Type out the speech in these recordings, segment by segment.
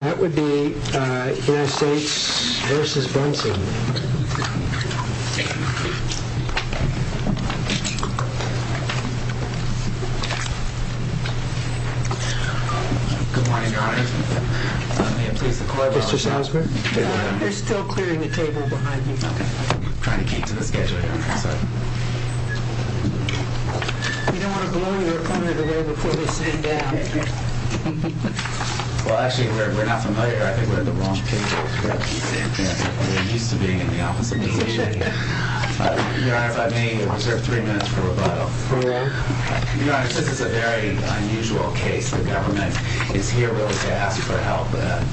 That would be United States versus Brunson. Good morning, Your Honor. Mr. Salzberg. They're still clearing the table behind you. I'm trying to keep to the schedule, Your Honor. You don't want to blow your opponent away before they sit down. Well, actually, we're not familiar. I think we're at the wrong table. We're used to being in the opposite position. Your Honor, if I may, I reserve three minutes for rebuttal. Your Honor, this is a very unusual case. The government is here really to ask for help.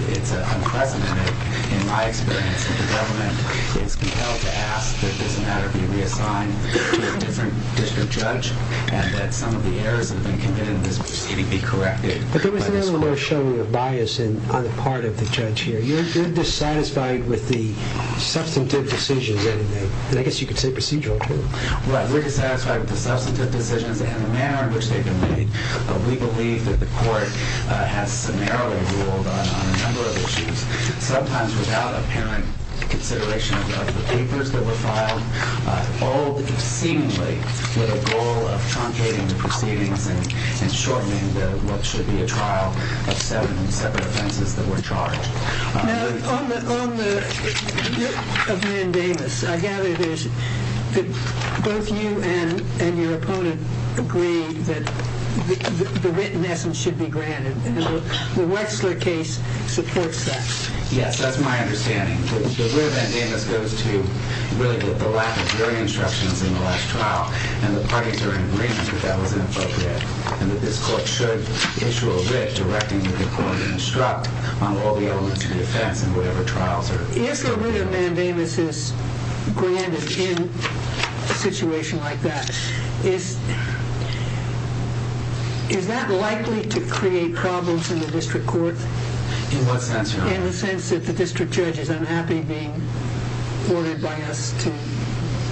It's unpleasant in my experience that the government is compelled to ask that this matter be reassigned to a different district judge and that some of the errors that have been committed in this proceeding be corrected by this court. But there was a little more showing of bias on the part of the judge here. You're dissatisfied with the substantive decisions, isn't it? And I guess you could say procedural, too. Well, we're dissatisfied with the substantive decisions and the manner in which they've been made. We believe that the court has summarily ruled on a number of issues, sometimes without apparent consideration of the papers that were filed, all seemingly with a goal of truncating the proceedings and shortening what should be a trial of seven separate offenses that were charged. Now, on the Mandamus, I gather that both you and your opponent agree that the written essence should be granted. The Wexler case supports that. Yes, that's my understanding. The writ of Mandamus goes to, really, the lack of jury instructions in the last trial. And the parties are in agreement that that was inappropriate and that this court should issue a writ directing the court to instruct on all the elements of defense in whatever trials are... If the writ of Mandamus is granted in a situation like that, is that likely to create problems in the district court? In what sense, Your Honor? In the sense that the district judge is unhappy being ordered by us to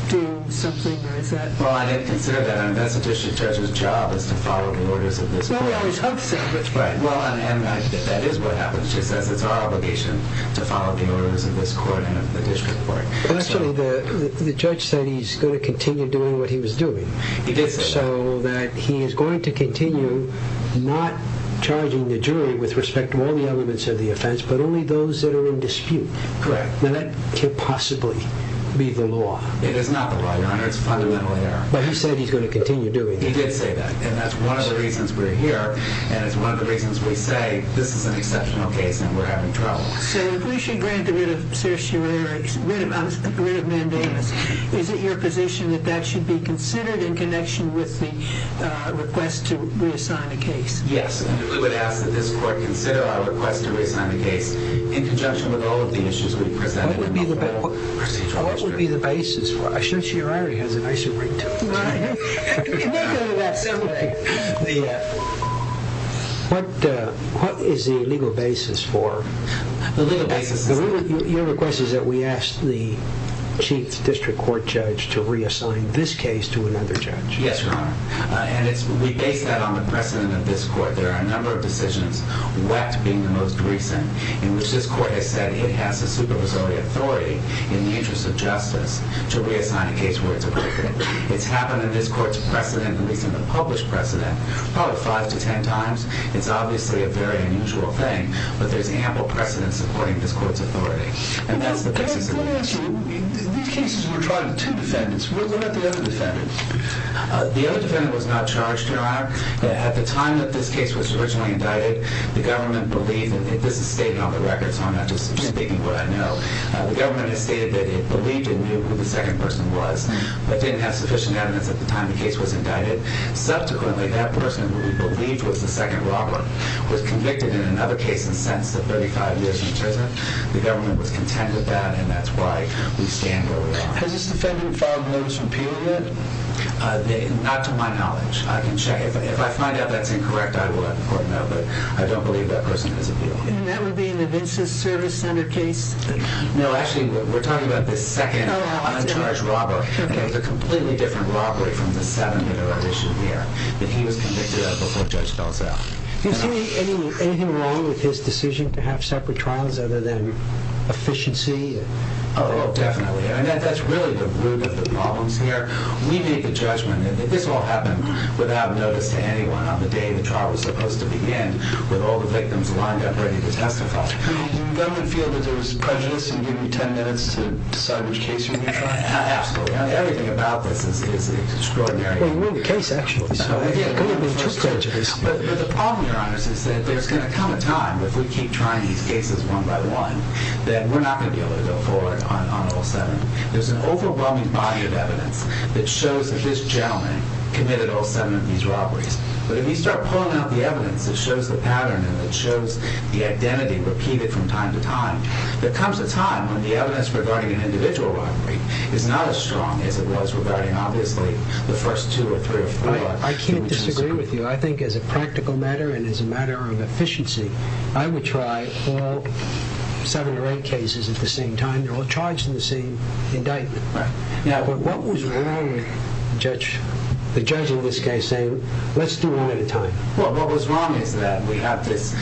do something? Or is that... Well, I didn't consider that. I mean, that's the district judge's job is to follow the orders of this court. Well, we always hope so. Right. Well, and that is what happens. She says it's our obligation to follow the orders of this court and of the district court. Actually, the judge said he's going to continue doing what he was doing. He did say that. So that he is going to continue not charging the jury with respect to all the elements of the offense, but only those that are in dispute. Correct. Now, that can't possibly be the law. It is not the law, Your Honor. It's a fundamental error. But he said he's going to continue doing it. He did say that, and that's one of the reasons we're here, and it's one of the reasons we say this is an exceptional case and we're having trouble. So if we should grant the writ of Mandamus, is it your position that that should be considered in connection with the request to reassign the case? Yes. We would ask that this court consider our request to reassign the case in conjunction with all of the issues we presented. What would be the basis for it? I should see your irony. I should read too. No, I know. We can think of it that simple. What is the legal basis for it? The legal basis is that. Your request is that we ask the chief district court judge to reassign this case to another judge. Yes, Your Honor. And we base that on the precedent of this court. There are a number of decisions, wet being the most recent, in which this court has said it has the supervisory authority in the interest of justice to reassign a case where it's appropriate. It's happened in this court's precedent, at least in the published precedent, probably five to ten times. It's obviously a very unusual thing, but there's ample precedent supporting this court's authority, and that's the basis of it. Let me ask you. These cases were tried with two defendants. What about the other defendants? The other defendant was not charged, Your Honor. At the time that this case was originally indicted, the government believed, and this is stated on the record, so I'm not just speaking what I know. The government has stated that it believed it knew who the second person was but didn't have sufficient evidence at the time the case was indicted. Subsequently, that person who we believed was the second robber was convicted in another case and sentenced to 35 years in prison. The government was content with that, and that's why we stand where we are. Has this defendant filed a notice of appeal yet? Not to my knowledge. I can check. If I find out that's incorrect, I will let the court know, but I don't believe that person has appeal. And that would be in the Vincent Service Center case? No, actually, we're talking about the second uncharged robber. It was a completely different robbery from the seven that are at issue here, but he was convicted of that before Judge Belzow. Is there anything wrong with his decision to have separate trials other than efficiency? Oh, definitely. That's really the root of the problems here. We made the judgment that this all happened without notice to anyone on the day the trial was supposed to begin with all the victims lined up ready to testify. Did the government feel that there was prejudice in giving you 10 minutes to decide which case you're going to try? Absolutely. Everything about this is extraordinary. Well, you're in the case, actually. But the problem, Your Honor, is that there's going to come a time if we keep trying these cases one by one that we're not going to be able to go forward on all seven. There's an overwhelming body of evidence that shows that this gentleman committed all seven of these robberies. But if you start pulling out the evidence that shows the pattern and that shows the identity repeated from time to time, there comes a time when the evidence regarding an individual robbery is not as strong as it was regarding, obviously, the first two or three or four. I can't disagree with you. I think as a practical matter and as a matter of efficiency, I would try all seven or eight cases at the same time. They're all charged in the same indictment. Right. Now, what was wrong with the judge in this case saying, let's do one at a time? Well, what was wrong is that we have this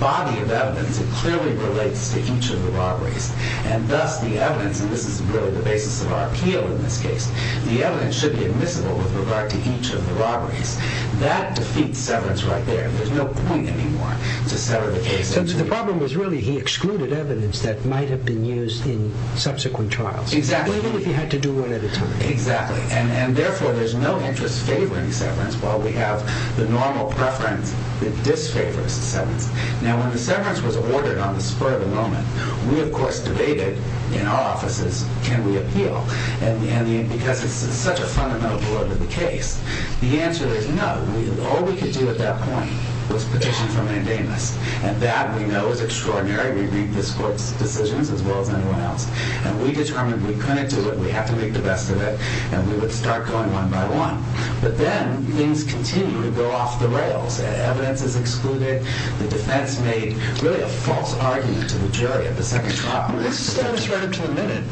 body of evidence that clearly relates to each of the robberies, and thus the evidence, and this is really the basis of our appeal in this case, the evidence should be admissible with regard to each of the robberies. That defeats severance right there. There's no point anymore to sever the case. So the problem was really he excluded evidence that might have been used in subsequent trials. Exactly. Even if he had to do one at a time. Exactly. And therefore, there's no interest favoring severance while we have the normal preference that disfavors severance. Now, when the severance was ordered on the spur of the moment, we, of course, debated in our offices can we appeal because it's such a fundamental part of the case. The answer is no. All we could do at that point was petition for mandamus, and that we know is extraordinary. We read this court's decisions as well as anyone else, and we determined we couldn't do it. We have to make the best of it, and we would start going one by one. But then things continue to go off the rails. Evidence is excluded. The defense made really a false argument to the jury at the second trial. Well, this is status right up to the minute.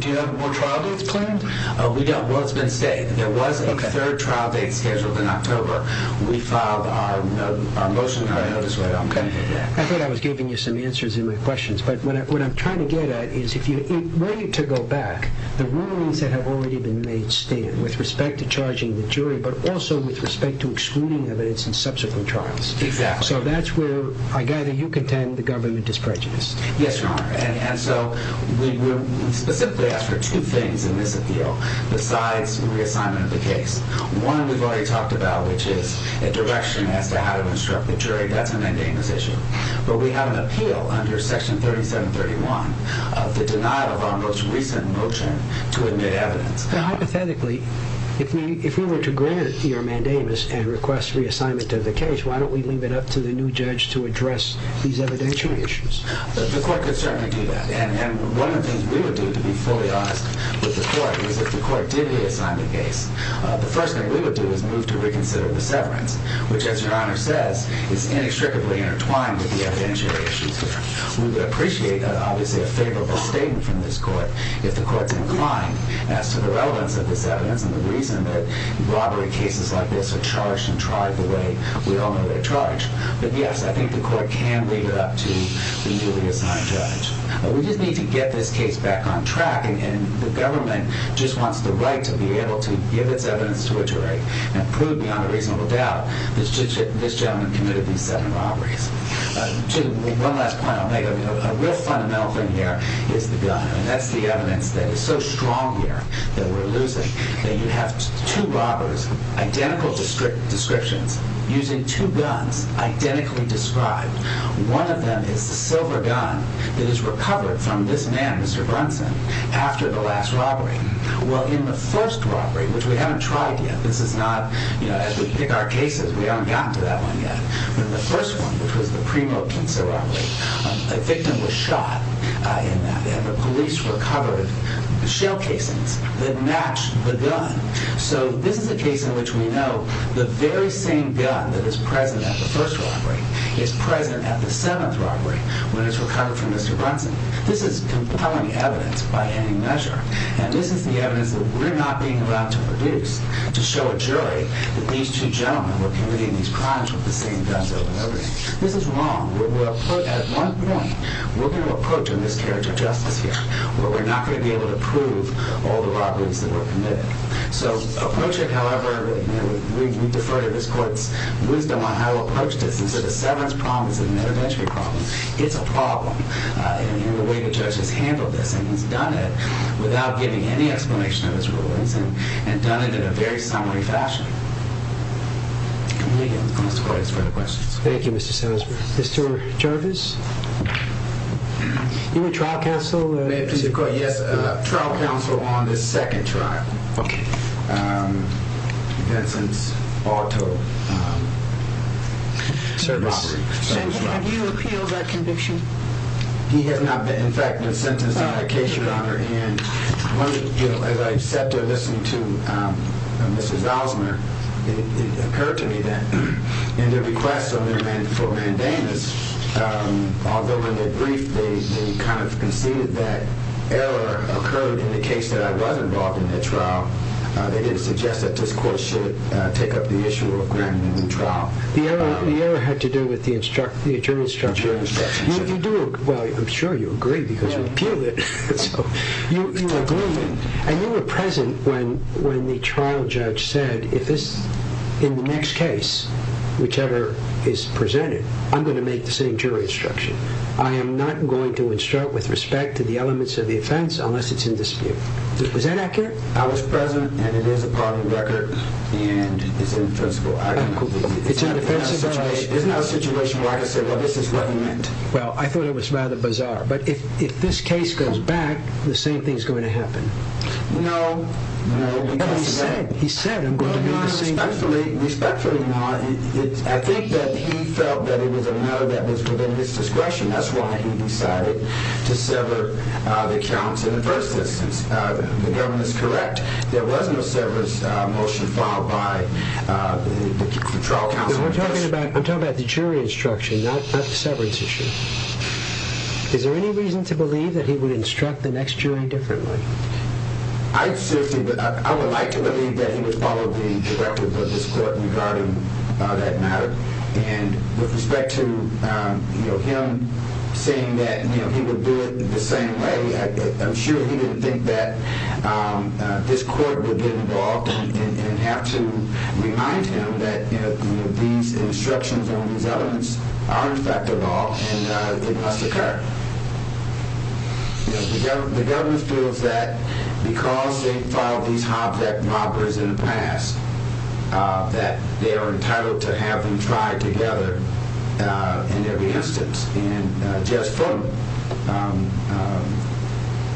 Do you have more trial dates planned? We don't. Well, it's been stated. There was a third trial date scheduled in October. We filed our motion and our notice later on. Okay. I thought I was giving you some answers in my questions, but what I'm trying to get at is if you were to go back, the rulings that have already been made stand with respect to charging the jury but also with respect to excluding evidence in subsequent trials. Exactly. So that's where I gather you contend the government is prejudiced. Yes, Your Honor. And so we specifically asked for two things in this appeal. Besides reassignment of the case, one we've already talked about, which is a direction as to how to instruct the jury. That's a mandamus issue. But we have an appeal under Section 3731 of the denial of our most recent motion to admit evidence. Now, hypothetically, if we were to grant your mandamus and request reassignment of the case, why don't we leave it up to the new judge to address these evidentiary issues? The court could certainly do that. And one of the things we would do, to be fully honest with the court, is if the court did reassign the case, the first thing we would do is move to reconsider the severance, which, as Your Honor says, is inextricably intertwined with the evidentiary issues here. We would appreciate, obviously, a favorable statement from this court if the court's inclined as to the relevance of this evidence and the reason that robbery cases like this are charged and tried the way we all know they're charged. But, yes, I think the court can leave it up to the newly assigned judge. We just need to get this case back on track, and the government just wants the right to be able to give its evidence to a jury and prove, beyond a reasonable doubt, that this gentleman committed these seven robberies. One last point I'll make. A real fundamental thing here is the gun, and that's the evidence that is so strong here that we're losing. You have two robbers, identical descriptions, using two guns, identically described. One of them is the silver gun that is recovered from this man, Mr. Brunson, after the last robbery. Well, in the first robbery, which we haven't tried yet, this is not, you know, as we pick our cases, we haven't gotten to that one yet. In the first one, which was the Primo-Kinsell robbery, a victim was shot in that, and the police recovered shell casings that matched the gun. So this is a case in which we know the very same gun that is present at the first robbery is present at the seventh robbery, when it's recovered from Mr. Brunson. This is compelling evidence by any measure, and this is the evidence that we're not being allowed to produce to show a jury that these two gentlemen were committing these crimes with the same guns over and over again. This is wrong. At one point, we're going to approach a miscarriage of justice here where we're not going to be able to prove all the robberies that were committed. So approaching, however, we defer to this court's wisdom on how to approach this, and so the severance problem is an intervention problem. It's a problem, and the way the judge has handled this, and he's done it without giving any explanation of his rulings and done it in a very summary fashion. Thank you, Mr. Salisbury. Thank you, Mr. Salisbury. Mr. Jarvis? You were trial counsel? Yes, trial counsel on this second trial. Okay. Vincent's auto robbery. Have you appealed that conviction? He has not, in fact, been sentenced on a case, Your Honor, and as I sat there listening to Mrs. Osmer, it occurred to me that in the request for mandamus, although in the brief they kind of conceded that error occurred in the case that I was involved in that trial, they didn't suggest that this court should take up the issue of granting a new trial. The error had to do with the jury instruction? The jury instruction, yes. Well, I'm sure you agree, because you appealed it, so you agree, and you were present when the trial judge said, in the next case, whichever is presented, I'm going to make the same jury instruction. I am not going to instruct with respect to the elements of the offense unless it's in dispute. Is that accurate? I was present, and it is a part of the record, and it's indefensible. It's indefensible? It's not a situation where I can say, well, this is what he meant. Well, I thought it was rather bizarre. But if this case goes back, the same thing is going to happen. No. He said, he said, I'm going to be the same. Respectfully, Your Honor, I think that he felt that it was a matter that was within his discretion. That's why he decided to sever the counts in the first instance. The government is correct. There was no severance motion filed by the trial counsel. We're talking about the jury instruction, not the severance issue. Is there any reason to believe that he would instruct the next jury differently? I would like to believe that he would follow the directive of this court regarding that matter. And with respect to him saying that he would do it the same way, I'm sure he didn't think that this court would get involved and have to remind him that these instructions on these elements are, in fact, a law, and it must occur. The government feels that because they've filed these Hobb-Leck robberies in the past, that they are entitled to have them tried together in every instance. And just from,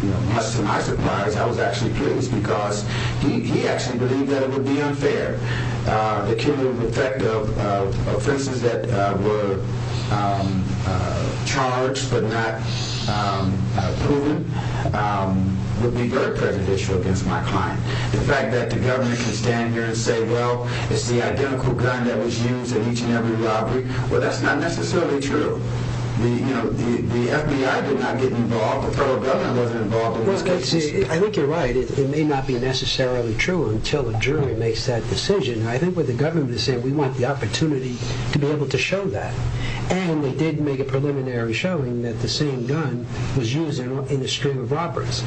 you know, much to my surprise, I was actually pleased because he actually believed that it would be unfair. The cumulative effect of offenses that were charged but not proven would be very prejudicial against my client. The fact that the government can stand here and say, well, it's the identical gun that was used in each and every robbery, well, that's not necessarily true. You know, the FBI did not get involved. The federal government wasn't involved in these cases. I think you're right. It may not be necessarily true until a jury makes that decision. I think what the government is saying, we want the opportunity to be able to show that. And they did make a preliminary showing that the same gun was used in a stream of robberies.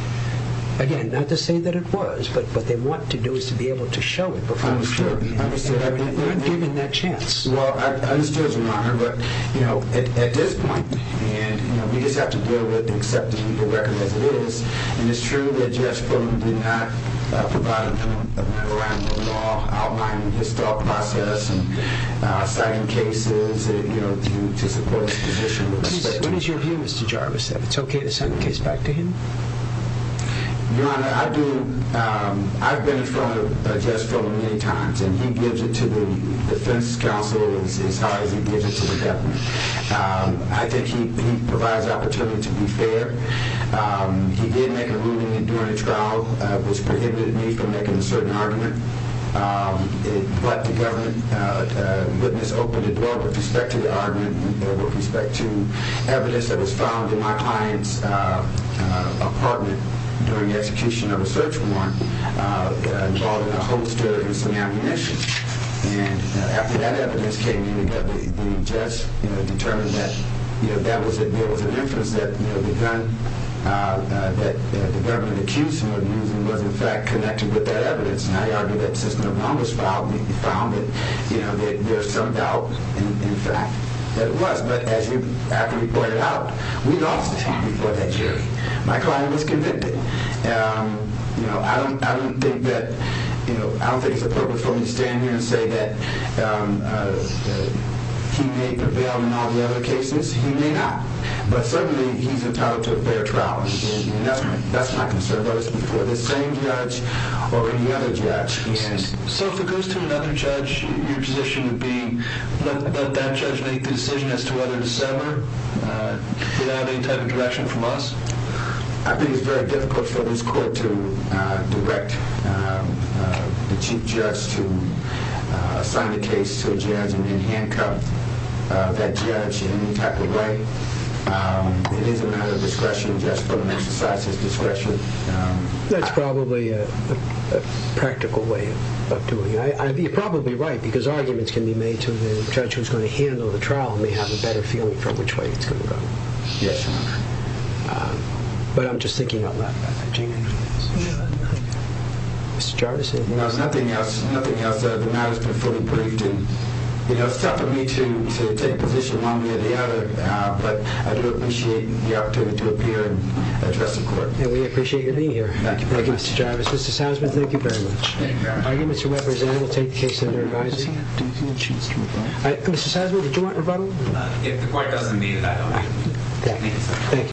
Again, not to say that it was, but what they want to do is to be able to show it before the jury. I understand. They weren't given that chance. Well, I understand, Your Honor, but, you know, at this point, we just have to deal with accepting the record as it is. And it's true that Jeff Fulham did not provide an opinion around the law, outlining his thought process and citing cases, you know, to support his position. What is your view, Mr. Jarvis, that it's okay to send the case back to him? Your Honor, I've been in front of Jeff Fulham many times, and he gives it to the defense counsel as hard as he gives it to the government. I think he provides opportunity to be fair. He did make a ruling during the trial which prohibited me from making a certain argument. It let the government witness open the door with respect to the argument and with respect to evidence that was found in my client's apartment during the execution of a search warrant involving a holster and some ammunition. And after that evidence came in, we just determined that that was it. There was an inference that the gun that the government accused him of using was, in fact, connected with that evidence. And I argue that since no one was found, we found it. You know, there's some doubt, in fact, that it was. But as you actually pointed out, we lost the case before that jury. My client was convicted. You know, I don't think that, you know, I don't think it's appropriate for me to stand here and say that he made the bail in all the other cases. He may not. But certainly, he's entitled to a fair trial. That's my concern, whether it's before the same judge or any other judge. So if it goes to another judge, your position would be let that judge make the decision as to whether to sever without any type of direction from us? I think it's very difficult for this court to direct the chief judge to assign the case to a judge and then handcuff that judge in any type of way. It is a matter of discretion. Just for an exercise, it's discretion. That's probably a practical way of doing it. You're probably right, because arguments can be made to the judge who's going to handle the trial and may have a better feeling for which way it's going to go. Yes, Your Honor. But I'm just thinking on that. Mr. Jarvis, anything else? No, nothing else. Nothing else. The matter's been fully briefed. And, you know, it's tough for me to take a position one way or the other. But I do appreciate the opportunity to appear and address the court. And we appreciate you being here. Thank you. Thank you, Mr. Jarvis. Mr. Salzman, thank you very much. Thank you, Your Honor. Arguments are represented. We'll take the case under revising. Mr. Salzman, did you want rebuttal? If the court doesn't need it, I don't need it.